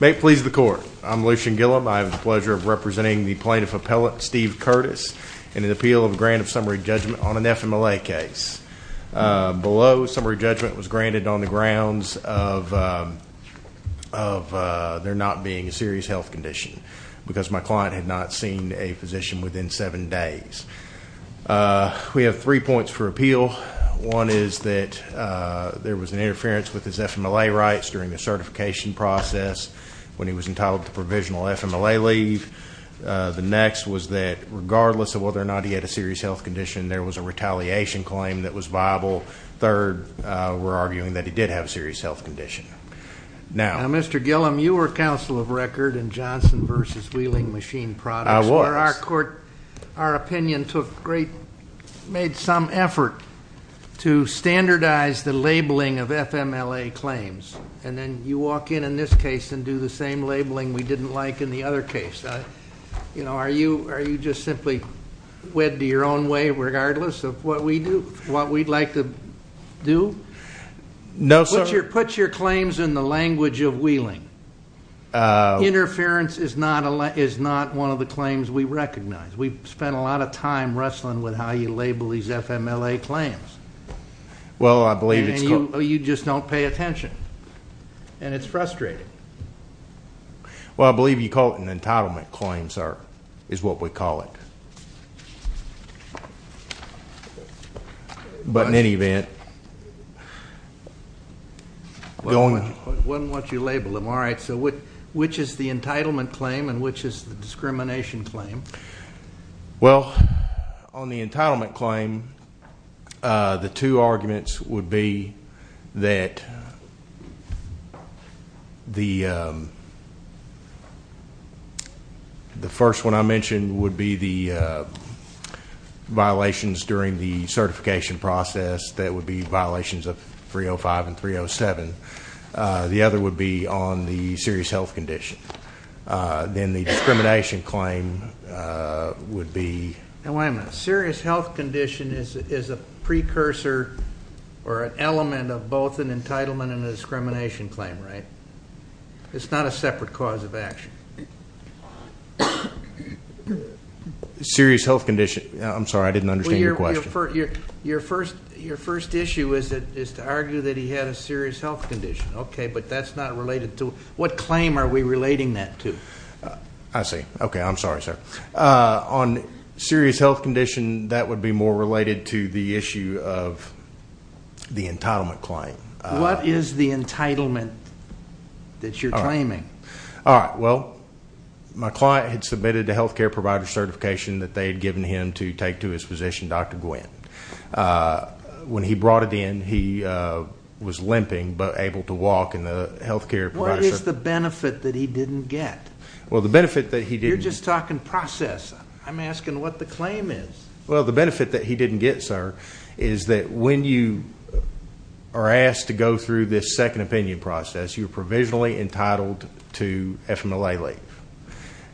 May it please the court. I'm Lucian Gilliam. I have the pleasure of representing the plaintiff appellate Steve Curtis in an appeal of a grant of summary judgment on an FMLA case. Below, summary judgment was granted on the grounds of there not being a serious health condition because my client had not seen a physician within seven days. We have three points for appeal. One is that there was an interference with his FMLA rights during the certification process when he was entitled to provisional FMLA leave. The next was that regardless of whether or not he had a serious health condition, there was a retaliation claim that was viable. Third, we're arguing that he did have a serious health condition. Now Mr. Gilliam, you were counsel of record in Johnson vs. Wheeling Machine Products. I was. Our court, our opinion took great, made some effort to standardize the labeling of FMLA claims, and then you walk in in this case and do the same labeling we didn't like in the other case. You know, are you just simply wed to your own way regardless of what we do, what we'd like to do? No sir. Put your claims in the language of Wheeling. Interference is not one of the claims we recognize. We've spent a lot of time trying to figure out how you label these FMLA claims. Well, I believe it's... You just don't pay attention, and it's frustrating. Well, I believe you call it an entitlement claim, sir, is what we call it. But in any event, going... Why don't you label them? All right, so which is the entitlement claim and which is the discrimination claim? Well, on the entitlement claim, the two arguments would be that the first one I mentioned would be the violations during the certification process. That would be violations of 305 and 307. The other would be on the serious health condition. Then the discrimination claim would be... Now wait a minute. Serious health condition is a precursor or an element of both an entitlement and a discrimination claim, right? It's not a separate cause of action. Serious health condition. I'm sorry, I didn't understand your question. Your first issue is to argue that he had a serious health condition. Okay, but that's not related to... What claim are we relating that to? I see. Okay, I'm sorry, sir. On serious health condition, that would be more related to the issue of the entitlement claim. What is the entitlement that you're claiming? All right, well, my client had submitted a health care provider certification that they had given him to take to his physician, Dr. Gwinn. When he brought it in, he was limping but able to walk and the health care provider... What is the benefit that he didn't get? Well, the benefit that he didn't... You're just talking process. I'm asking what the claim is. Well, the benefit that he didn't get, sir, is that when you are asked to go through this second opinion process, you're provisionally entitled to FMLA leave.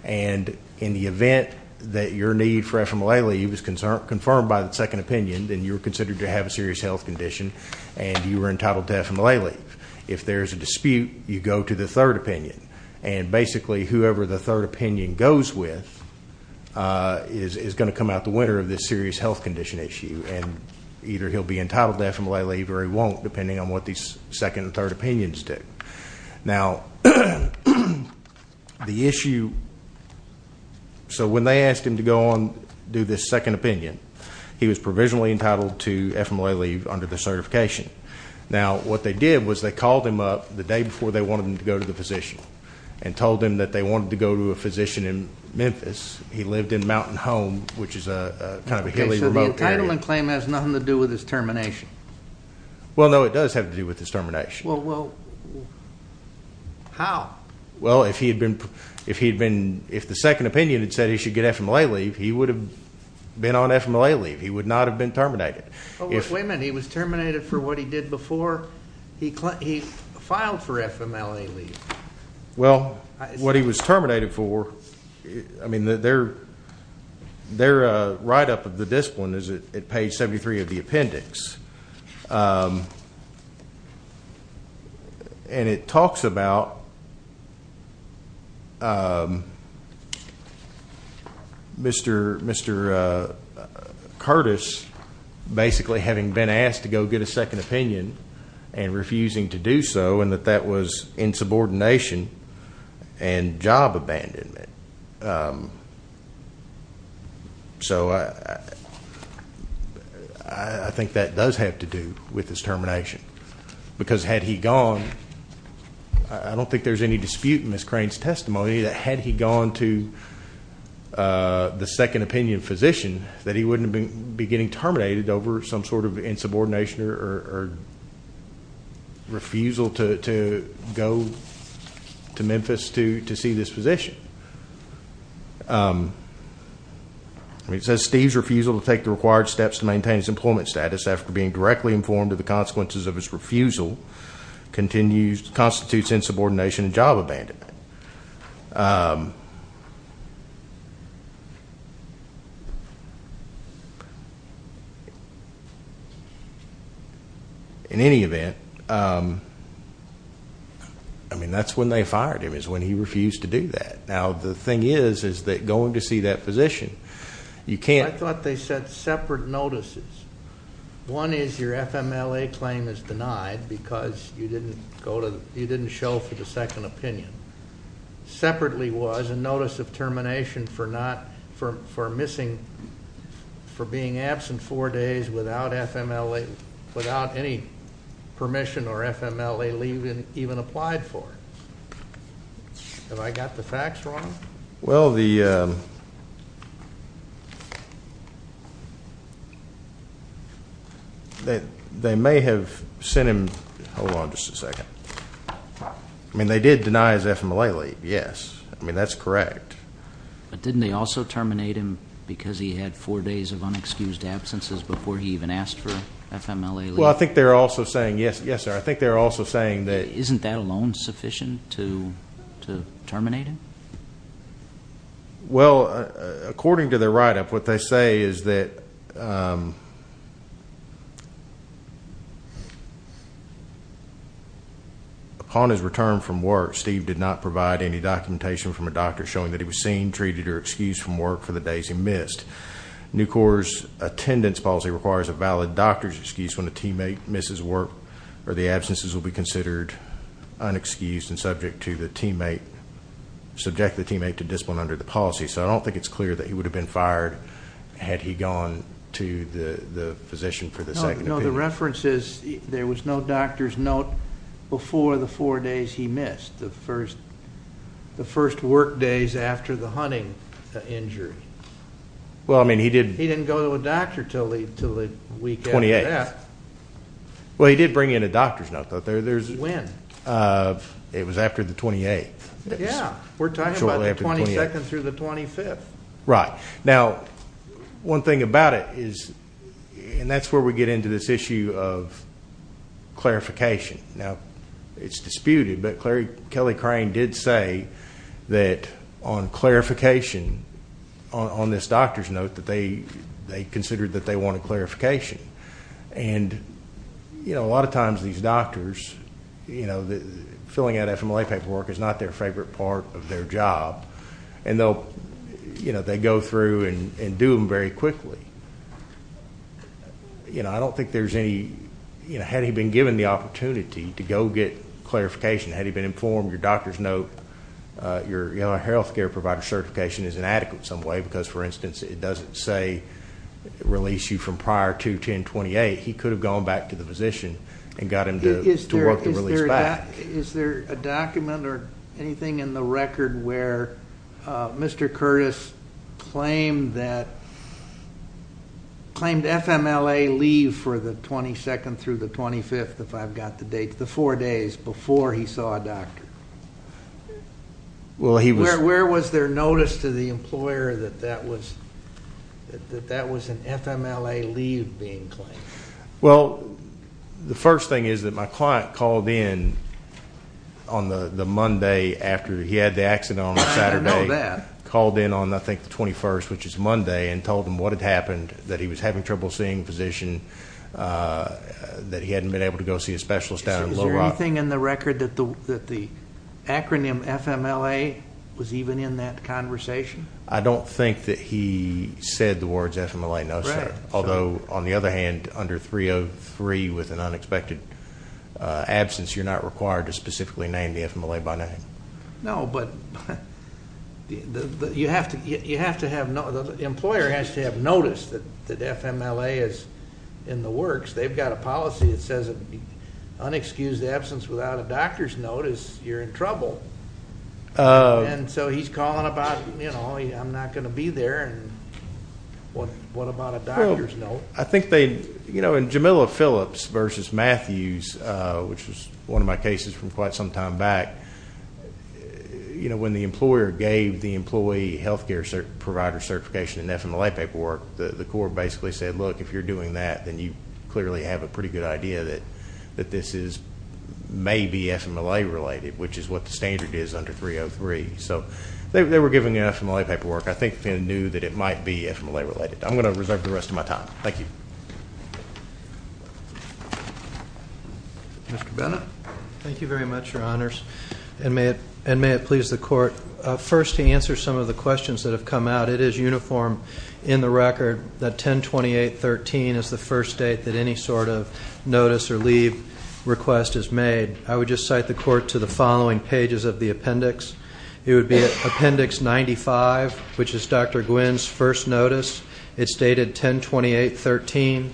And in the event that your need for FMLA leave is confirmed by the second opinion, then you're considered to have a serious health condition and you were entitled to FMLA leave. If there's a dispute, you go to the third opinion. And basically, whoever the third opinion goes with is going to come out the winner of this serious health condition issue. And either he'll be entitled to FMLA leave or he won't, depending on what these second and third opinions do. Now, the issue... So when they asked him to go on do this second opinion, he was provisionally entitled to FMLA leave under the certification. Now, what they did was they called him up the day before they wanted him to go to the physician and told him that they wanted to go to a physician in Memphis. He lived in Mountain Home, which is a kind of a highly remote area. So the entitlement claim has nothing to do with his termination? Well, no, it does have to do with his termination. Well, how? Well, if he had been... If the second opinion had said he should get FMLA leave, he would have been on FMLA leave. He would not have been terminated. But wait a minute, he was terminated for what he did before he filed for FMLA leave? Well, what he was terminated for... I mean, their write-up of the discipline is at page 73 of the appendix. And it talks about Mr. Curtis basically having been asked to go get a second opinion and refusing to do so, and that that was insubordination and job abandonment. So I think that does have to do with his termination. Because had he gone, I don't think there's any dispute in Ms. Crane's testimony that had he gone to the second opinion physician, that he wouldn't have been getting terminated over some sort of insubordination or refusal to go to Memphis to see this physician. It says Steve's refusal to take the required steps to maintain his employment status after being directly informed of the consequences of his refusal constitutes insubordination and job abandonment. In any event, I mean, that's when they fired him, is when he refused to do that. Now, the thing is, is that going to see that physician, you can't... I thought they said separate notices. One is your FMLA claim is denied because you didn't go to, you didn't show for the second opinion. Separately was a notice of termination for not, for missing, for being absent four days without FMLA, without any permission or FMLA leave even applied for. Have I got the facts wrong? Well, they may have sent him... Hold on just a second. I mean, they did deny his FMLA leave, yes. I mean, that's correct. But didn't they also terminate him because he had four days of unexcused absences before he even asked for FMLA leave? Well, I think they're also saying that... Isn't that alone sufficient to terminate him? Well, according to their write-up, what they say is that upon his return from work, Steve did not provide any documentation from a doctor showing that he was seen, treated, or excused from work for the days he missed. NUCOR's attendance policy requires a valid doctor's excuse when a teammate misses work or the absences will be considered unexcused and subject to the teammate, subject the teammate to discipline under the policy. So I don't think it's clear that he would have been fired had he gone to the physician for the second opinion. No, the reference is there was no doctor's note before the four days he missed, the first, the first work days after the hunting injury. Well, I mean, he didn't... He didn't go to a doctor till the week after that. Well, he did bring in a doctor's note. When? It was after the 28th. Yeah, we're talking about the 22nd through the 25th. Right. Now, one thing about it is, and that's where we get into this issue of clarification. Now, it's disputed, but Kelly Crane did say that on clarification on this doctor's note that they considered that they wanted clarification. And, you know, a lot of times these doctors, you know, filling out a FMLA paperwork is not their favorite part of their job. And they'll, you know, they go through and do them very quickly. You know, I don't think there's any, you know, had he been given the opportunity to go get clarification, had he been informed your doctor's note, release you from prior to 1028, he could have gone back to the physician and got him to work the release back. Is there a document or anything in the record where Mr. Curtis claimed that, claimed FMLA leave for the 22nd through the 25th, if I've got the date, the four days before he saw a doctor? Well, he was... Where was their notice to the employer that that was, that that was an FMLA leave being claimed? Well, the first thing is that my client called in on the Monday after he had the accident on a Saturday, called in on, I think, the 21st, which is Monday, and told them what had happened, that he was having trouble seeing a physician, that he hadn't been able to go see a specialist down in Little Rock. Is there anything in the record that the acronym FMLA was even in that conversation? I don't think that he said the words FMLA, no, sir. Although, on the other hand, under 303 with an unexpected absence, you're not required to specifically name the FMLA by name. No, but you have to, you have to have, the employer has to have noticed that FMLA is in the works. They've got a policy that says it unexcused absence without a doctor's notice, you're in trouble. And so he's calling about, you know, I'm not gonna be there, and what about a doctor's note? I think they, you know, in Jamila Phillips versus Matthews, which was one of my cases from quite some time back, you know, when the employer gave the employee health care provider certification in FMLA paperwork, the court basically said, look, if you're doing that, then you clearly have a pretty good idea that this is, may be FMLA related, which is what the standard is under 303. So they were giving FMLA paperwork. I think they knew that it might be FMLA related. I'm gonna reserve the rest of my time. Thank you. Mr. Bennett. Thank you very much, your honors. And may it please the court, first to answer some of the questions that have come out. It is uniform in the record that 1028.13 is the first date that any sort of notice or leave request is made. I would just cite the court to the following pages of the appendix. It would be appendix 95, which is Dr. Gwinn's first notice. It's dated 1028.13.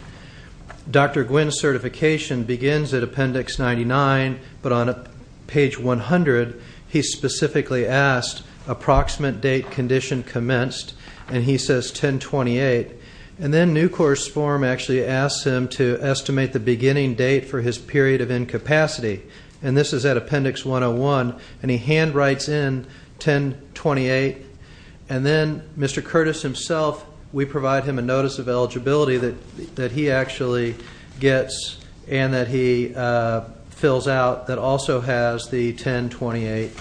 Dr. Gwinn's certification begins at appendix 99, but on page 100, he specifically asked, approximate date condition commenced, and he says 1028. And then new course form actually asks him to estimate the beginning date for his period of incapacity. And this is at appendix 101, and he handwrites in 1028. And then Mr. Curtis himself, we provide him a notice of eligibility that he actually gets and that he fills out that also has the 1028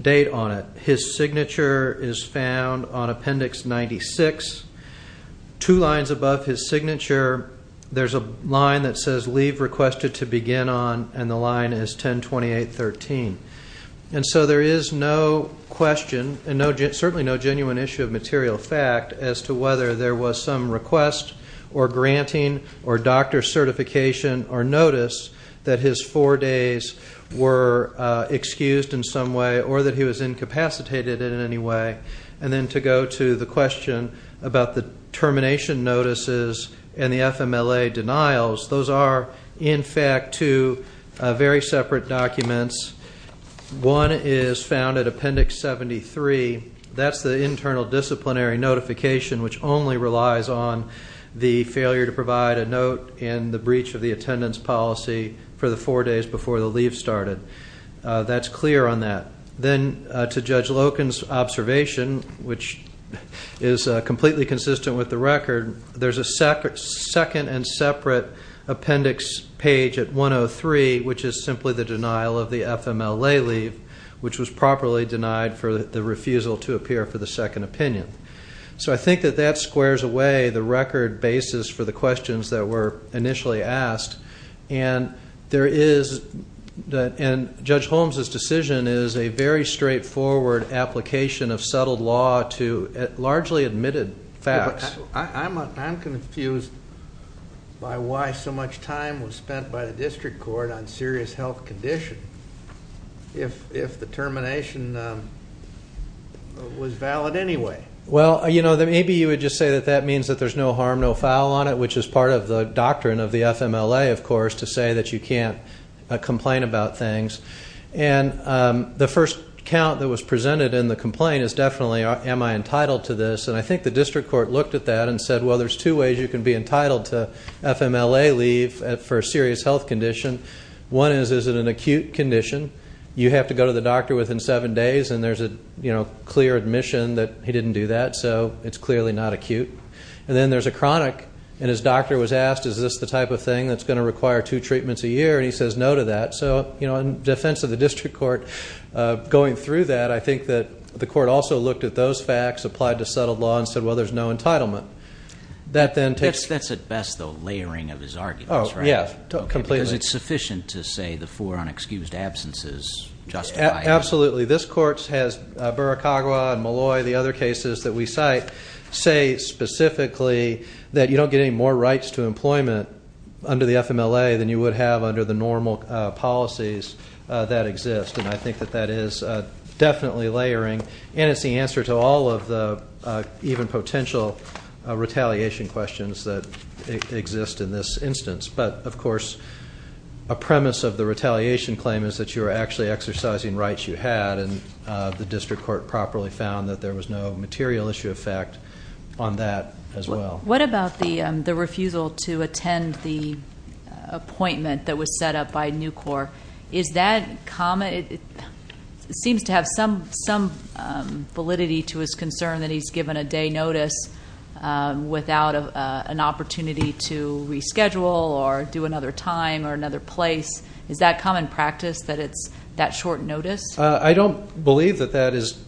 date on it. His signature is found on appendix 96. Two lines above his signature, there's a line that says leave requested to begin on, and the line is 1028.13. And so there is no question and certainly no genuine issue of material fact as to whether there was some request or granting or doctor certification or notice that his four days were excused in some way or that he was incapacitated in any way. And then to go to the termination notices and the FMLA denials, those are in fact two very separate documents. One is found at appendix 73. That's the internal disciplinary notification which only relies on the failure to provide a note and the breach of the attendance policy for the four days before the leave started. That's clear on that. Then to Judge Loken's observation, which is completely consistent with the record, there's a second and separate appendix page at 103, which is simply the denial of the FMLA leave, which was properly denied for the refusal to appear for the second opinion. So I think that that squares away the record basis for the questions that were initially asked. And Judge Holmes's decision is a very straightforward application of settled law to largely admitted facts. I'm confused by why so much time was spent by the district court on serious health condition if the termination was valid anyway. Well, you know, maybe you would just say that that means that there's no harm no foul on it, which is part of the doctrine of the FMLA, of course, to say that you can't complain about things. And the first count that was presented in the complaint is definitely, am I entitled to this? And I think the district court looked at that and said, well, there's two ways you can be entitled to FMLA leave for a serious health condition. One is, is it an acute condition? You have to go to the doctor within seven days and there's a, you know, clear admission that he didn't do that. So it's clearly not acute. And then there's a chronic and his doctor was asked, is this the type of thing that's going to require two treatments a year? And he says no to that. So, you know, in defense of the district court going through that, I think that the court also looked at those facts, applied to settled law, and said, well, there's no entitlement. That then takes... That's at best the layering of his arguments, right? Oh, yes, completely. Because it's sufficient to say the four unexcused absences justify... Absolutely. This court has Burakawa and Malloy, the other cases that we cite, say specifically that you don't get any more rights to employment under the FMLA than you would have under the normal policies that exist. And I think that that is definitely layering. And it's the answer to all of the even potential retaliation questions that exist in this instance. But, of course, a premise of the retaliation claim is that you are actually exercising rights you had. And the district court properly found that there was no material issue effect on that as well. What about the refusal to attend the appointment that was set up by NUCOR? Is that common? It seems to have some validity to his concern that he's given a day notice without an opportunity to reschedule or do another time or another place. Is that common practice that it's that short notice? I don't believe that that is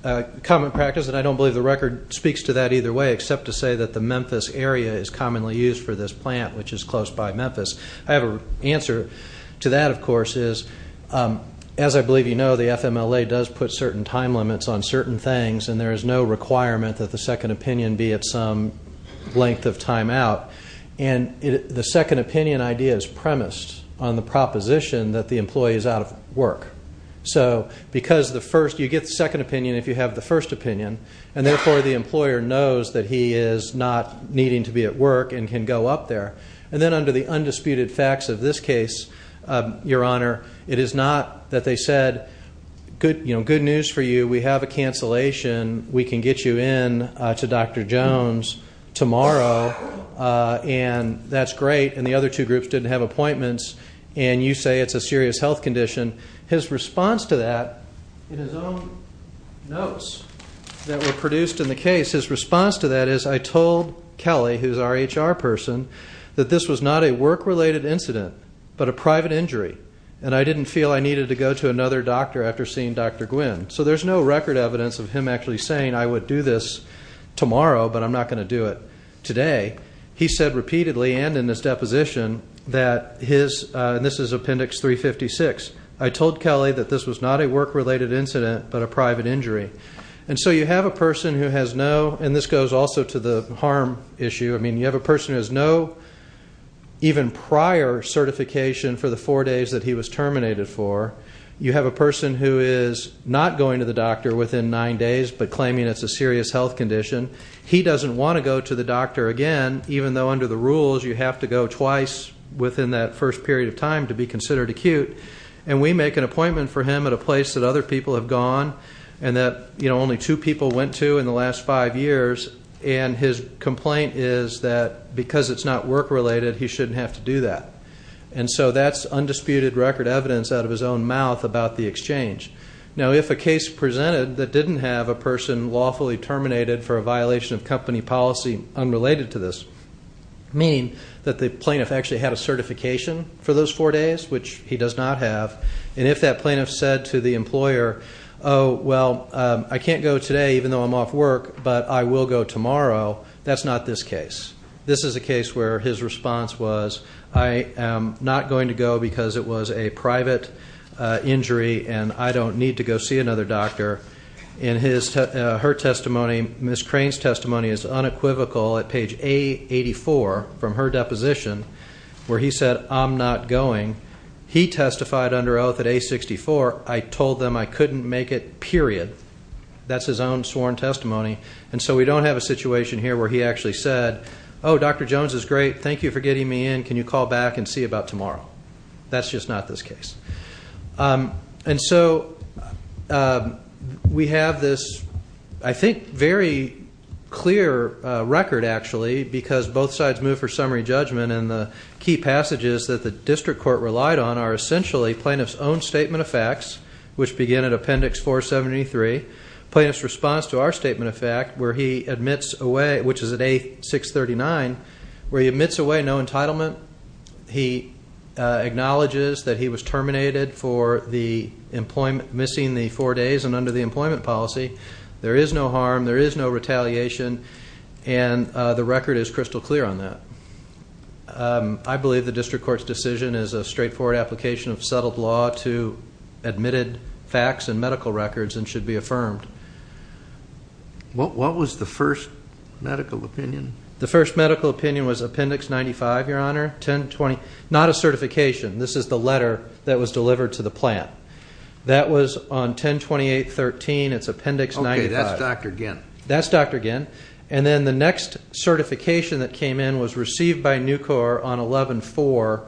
common practice, and I don't believe the that either way except to say that the Memphis area is commonly used for this plant, which is close by Memphis. I have an answer to that, of course, is as I believe you know the FMLA does put certain time limits on certain things and there is no requirement that the second opinion be at some length of time out. And the second opinion idea is premised on the proposition that the employee is out of work. So because the first... you get the second opinion if you have the first opinion, and therefore the employer knows that he is not needing to be at work and can go up there. And then under the undisputed facts of this case, your honor, it is not that they said good, you know, good news for you, we have a cancellation, we can get you in to Dr. Jones tomorrow, and that's great, and the other two groups didn't have appointments, and you say it's a serious health condition. His response to that in his own notes that were produced in the case, his response to that is, I told Kelly, who's our HR person, that this was not a work-related incident, but a private injury, and I didn't feel I needed to go to another doctor after seeing Dr. Gwinn. So there's no record evidence of him actually saying I would do this tomorrow, but I'm not going to do it today. He said repeatedly, and in his deposition, that his, and this is appendix 356, I told Kelly that this was not a work-related incident, but a private injury. And so you have a person who has no, and this goes also to the harm issue, I mean, you have a person who has no, even prior certification for the four days that he was terminated for, you have a person who is not going to the doctor within nine days, but claiming it's a serious health condition, he doesn't want to go to the doctor again, even though under the rules you have to go twice within that first period of time to be considered acute. And we make an appointment for him at a place that other people have gone, and that only two people went to in the last five years, and his complaint is that because it's not work-related, he shouldn't have to do that. And so that's undisputed record evidence out of his own mouth about the exchange. Now, if a case presented that didn't have a person lawfully terminated for a violation of that, the plaintiff actually had a certification for those four days, which he does not have, and if that plaintiff said to the employer, oh, well, I can't go today even though I'm off work, but I will go tomorrow, that's not this case. This is a case where his response was, I am not going to go because it was a private injury, and I don't need to go see another doctor. In her testimony, Ms. Crane's testimony is unequivocal at page A84 from her deposition, where he said, I'm not going. He testified under oath at A64. I told them I couldn't make it, period. That's his own sworn testimony. And so we don't have a situation here where he actually said, oh, Dr. Jones is great. Thank you for getting me in. Can you call back and see about tomorrow? That's just not this It's a very clear record, actually, because both sides moved for summary judgment, and the key passages that the district court relied on are essentially plaintiff's own statement of facts, which begin at Appendix 473. Plaintiff's response to our statement of fact, where he admits away, which is at A639, where he admits away no entitlement. He acknowledges that he was terminated for missing the four days and under the employment policy. There is no harm. There is no retaliation. And the record is crystal clear on that. I believe the district court's decision is a straightforward application of settled law to admitted facts and medical records and should be affirmed. What was the first medical opinion? The first medical opinion was Appendix 95, Your Honor. Not a certification. This is the letter that was delivered to the plant. That was on 10-28-13. It's Appendix 95. Okay, that's Dr. Ginn. That's Dr. Ginn. And then the next certification that came in was received by Nucor on 11-4,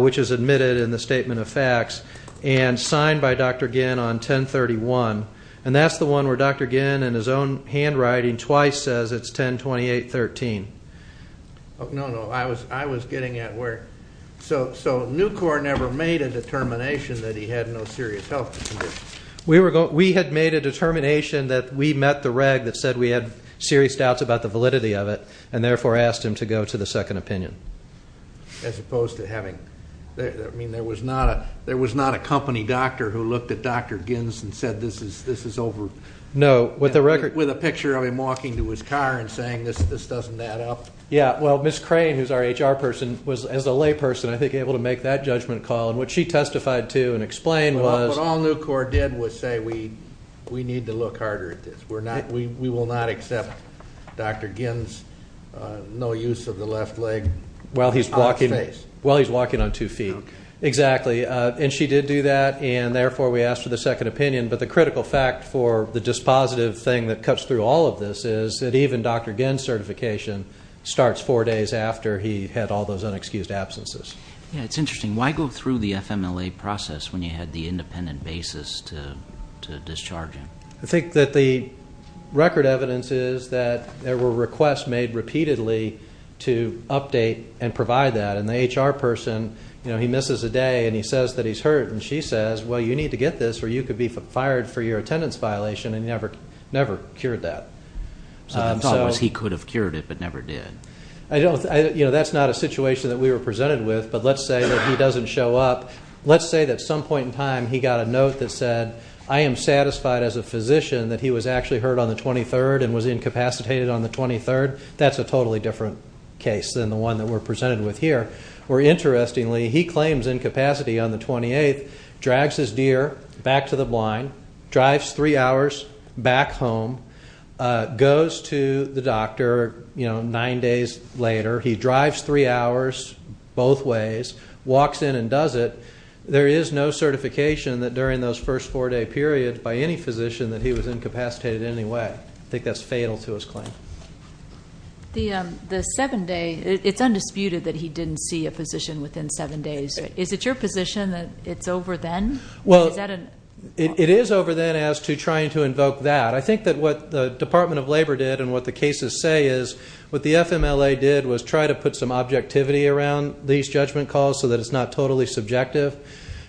which is admitted in the statement of facts, and signed by Dr. Ginn on 10-31. And that's the one where Dr. Ginn, in his own handwriting, twice says it's 10-28-13. Oh, no, no. I was getting at where... So Nucor never made a determination that he had no serious health conditions. We had made a determination that we met the reg that said we had serious doubts about the validity of it, and therefore asked him to go to the second opinion. As opposed to having... I mean, there was not a company doctor who looked at Dr. Ginn's and said this is over. No. With a picture of him walking to his car and saying this doesn't add up. Yeah, well, Ms. Crane, who's our HR person, was, as a layperson, I think, able to make that judgment call. And what she testified to and explained was... What all Nucor did was say we need to look harder at this. We will not accept Dr. Ginn's no use of the left leg on his face. While he's walking on two feet. Exactly. And she did do that, and therefore we asked for the second opinion. But the critical fact for the dispositive thing that cuts through all of this is that even Dr. Ginn's certification starts four days after he had all those unexcused absences. Yeah, it's interesting. Why go through the FMLA process when you had the independent basis to discharge him? I think that the record evidence is that there were requests made repeatedly to update and provide that. And the HR person, you know, he misses a day and he says that he's hurt. And she says, well, you need to get this or you could be fired for your attendance violation. And he never cured that. So I thought he could have cured it, but never did. I don't, you know, that's not a situation that we were presented with, but let's say that he doesn't show up. Let's say that some point in time he got a note that said, I am satisfied as a physician that he was actually hurt on the 23rd and was incapacitated on the 23rd. That's a totally different case than the one that we're presented with here. Or interestingly, he claims incapacity on the 28th, drags his deer back to the blind, drives three hours back home, goes to the doctor, you know, nine days later. He drives three hours both ways, walks in and does it. There is no certification that during those first four day period by any physician that he was incapacitated in any way. I think that's fatal to his claim. The seven day, it's undisputed that he didn't see a physician within seven days. Is it your position that it's over then? Well, it is over then as to trying to invoke that. I think that what the Department of Labor did and what the cases say is what the FMLA did was try to put some objectivity around these judgment calls so that it's not totally subjective.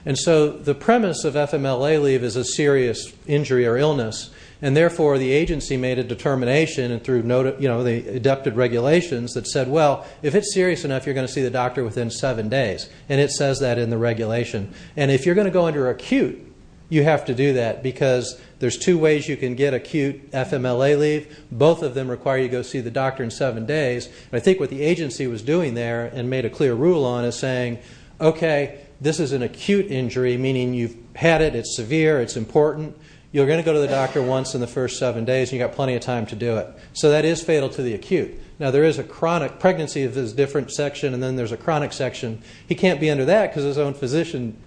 And so the premise of FMLA leave is a serious injury or illness, and therefore the agency made a determination and through, you know, the deducted regulations that said, well, if it's serious enough, you're going to see the doctor within seven days. And it says that in the regulation. And if you're going to go under acute, you have to do that because there's two ways you can get acute FMLA leave. Both of them require you go see the doctor in seven days. I think what the agency was doing there and made a clear rule on is saying, okay, this is an acute injury, meaning you've had it, it's severe, it's important. You're going to go to the doctor once in the first seven days, you got plenty of time to do it. So that is fatal to the acute. Now there is a chronic pregnancy of this different section, and then there's a chronic section. He can't be under that because his own physician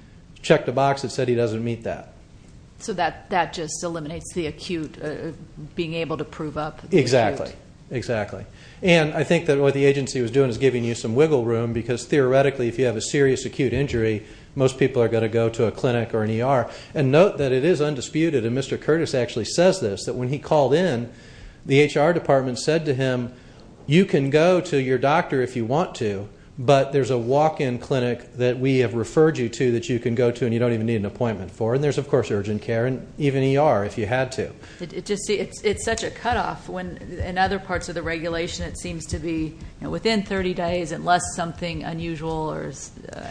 checked a box that said he doesn't meet that. So that just eliminates the acute, being able to prove up. Exactly, exactly. And I think that what the agency was doing is giving you some wiggle room because theoretically, if you have a serious acute injury, most people are going to go to a clinic or an ER. And note that it is undisputed, and Mr. Curtis actually says this, that when he called in, the HR department said to him, you can go to your doctor if you want to, but there's a walk-in clinic that we have referred you to that you can go to and you don't even need an appointment for. And there's of course urgent care and even ER if you had to. It's such a cutoff when, in other parts of the regulation, it seems to be within 30 days, unless something unusual or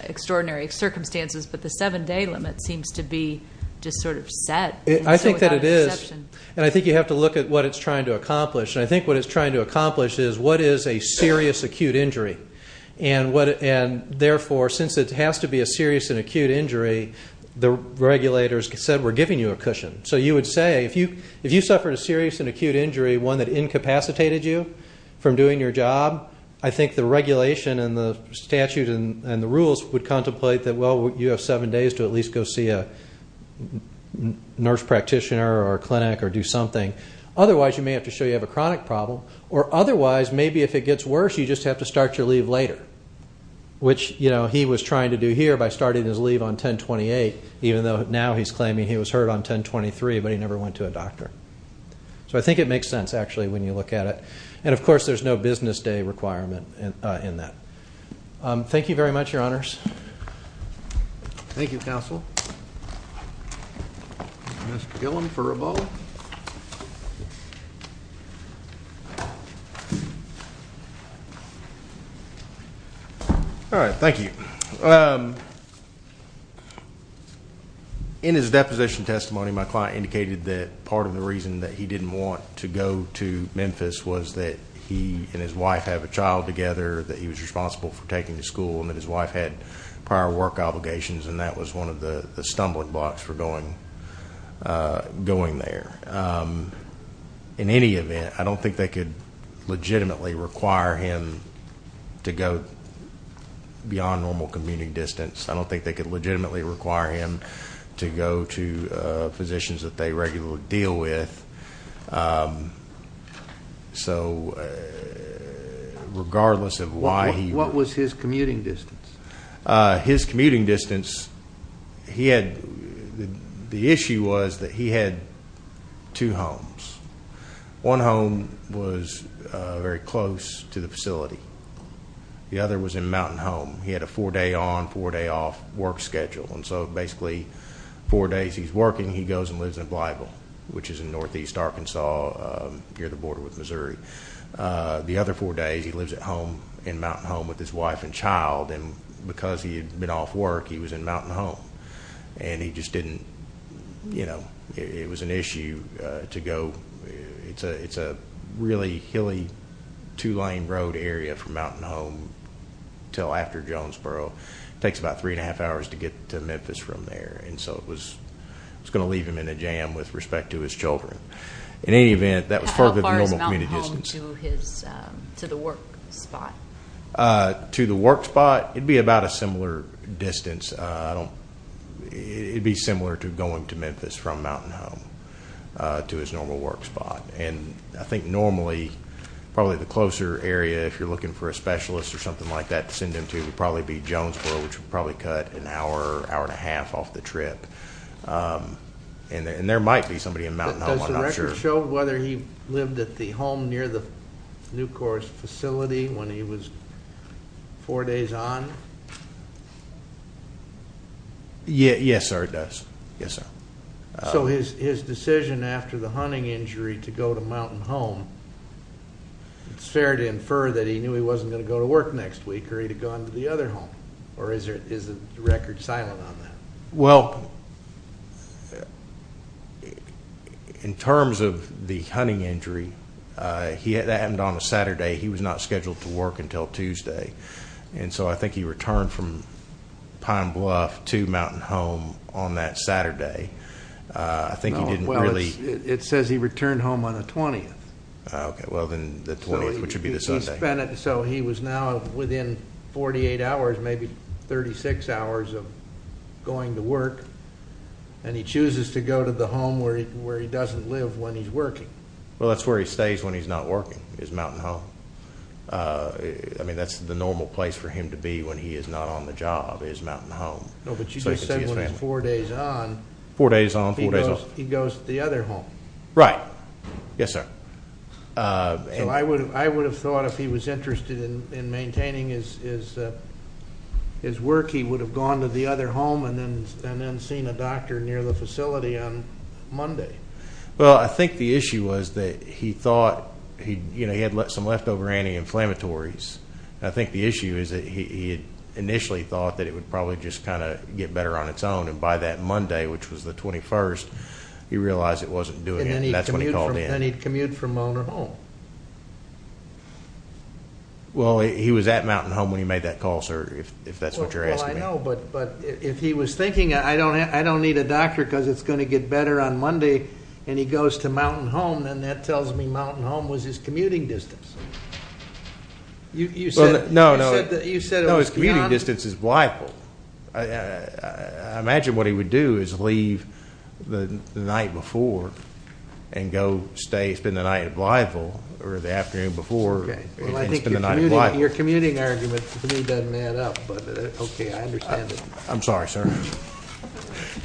extraordinary circumstances, but the seven-day limit seems to be just sort of set. I think that it is, and I think you have to look at what it's trying to accomplish. And I think what it's trying to accomplish is what is a serious acute injury. And therefore, since it has to be a serious and acute injury, the regulators said we're giving you a cushion. So you would say, if you suffered a serious and acute injury, one that incapacitated you from doing your job, I think the regulation and the statute and the rules would contemplate that, well, you have seven days to at least go see a nurse practitioner or clinic or do something. Otherwise, you may have to show you have a chronic problem. Or otherwise, maybe if it gets worse, you just have to start your leave later, which, you know, he was trying to do here by starting his leave on 10-28, even though now he's claiming he was hurt on 10-23, but he never went to a doctor. So I think it makes sense, actually, when you look at it. And of course, there's no business day requirement in that. Thank you very much, Your Honors. Thank you, Counsel. Mr. Gillum for Ebola. All right. Thank you. In his deposition testimony, my client indicated that part of the reason that he didn't want to go to Memphis was that he and his wife have a child together, that he was responsible for taking to school, and that his wife had prior work obligations. And that was one of the stumbling blocks for going there. In any event, I don't think they could legitimately require him to go beyond normal commuting distance. I don't think they could legitimately require him to go to physicians that they regularly deal with. So, regardless of why he... What was his commuting distance? His commuting distance, he had... The issue was that he had two homes. One home was very close to the facility. The other was in Mountain Home. He had a four day on, four day off work schedule. And so, basically, four days he's working, he goes and lives in Blytheville, which is in northeast Arkansas near the border with Missouri. The other four days, he lives at home in Mountain Home with his wife and child. And because he had been off work, he was in Mountain Home. And he just didn't... It was an issue to go... It's a really hilly, two lane road area from Mountain Home till after Jonesboro. It takes about three and a half hours to get to Memphis from there. And so, it was gonna leave him in a jam with respect to his children. In any event, that was part of the normal commuting distance. How far is Mountain Home to the work spot? To the work spot, it'd be about a similar distance. It'd be similar to going to Memphis from Mountain Home to his normal work spot. And I think normally, probably the closer area, if you're looking for a specialist or something like that to send him to, would probably be Jonesboro, which would probably cut an hour, hour and a half off the trip. And there might be somebody in Mountain Home, I'm not sure. Does the record show whether he lived at the home near the Nucor's facility when he was four days on? Yes, sir, it does. Yes, sir. So, his decision after the hunting injury to go to Mountain Home, it's fair to infer that he knew he wasn't gonna go to work next week, or he'd have gone to the other home? Or is the record silent on that? Well, in terms of the hunting injury, that happened on a Saturday, he was not scheduled to work until Tuesday. And so, I think he returned from Pine Bluff to Mountain Home on that Saturday. I think he didn't really... No, well, it says he returned home on the 20th. Okay, well, then the 20th, which would be the Sunday. So, he was now within 48 hours, maybe 36 hours of going to work, and he chooses to go to the home where he doesn't live when he's working. Well, that's where he stays when he's not working, is Mountain Home. I mean, that's the normal place for him to be when he is not on the job, is Mountain Home. No, but you just said when four days on... Four days on, four days off. He goes to the other home. Right. Yes, sir. So, I would have thought if he was interested in maintaining his work, he would have gone to the other home and then seen a doctor near the facility on Monday. Well, I think the issue was that he thought... He had some leftover anti inflammatories. I think the issue is that he had initially thought that it would probably just get better on its own, and by that Monday, which was the 21st, he realized it wasn't doing it, and that's when he called in. And he'd commute from Mountain Home. Well, he was at Mountain Home when he made that call, sir, if that's what you're asking. Well, I know, but if he was thinking, I don't need a doctor, because it's gonna get better on Monday, and he goes to Mountain Home, then that tells me Mountain Home was his commuting distance. You said... No, no. You said it was beyond... No, his commuting distance. I imagine what he would do is leave the night before and go stay, spend the night at Blytheville, or the afternoon before, and spend the night at Blytheville. Well, I think your commuting argument to me doesn't add up, but okay, I understand it. I'm sorry, sir.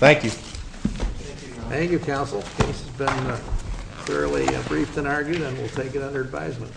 Thank you. Thank you, counsel. The case has been fairly briefed and argued, and we'll take it under advisement.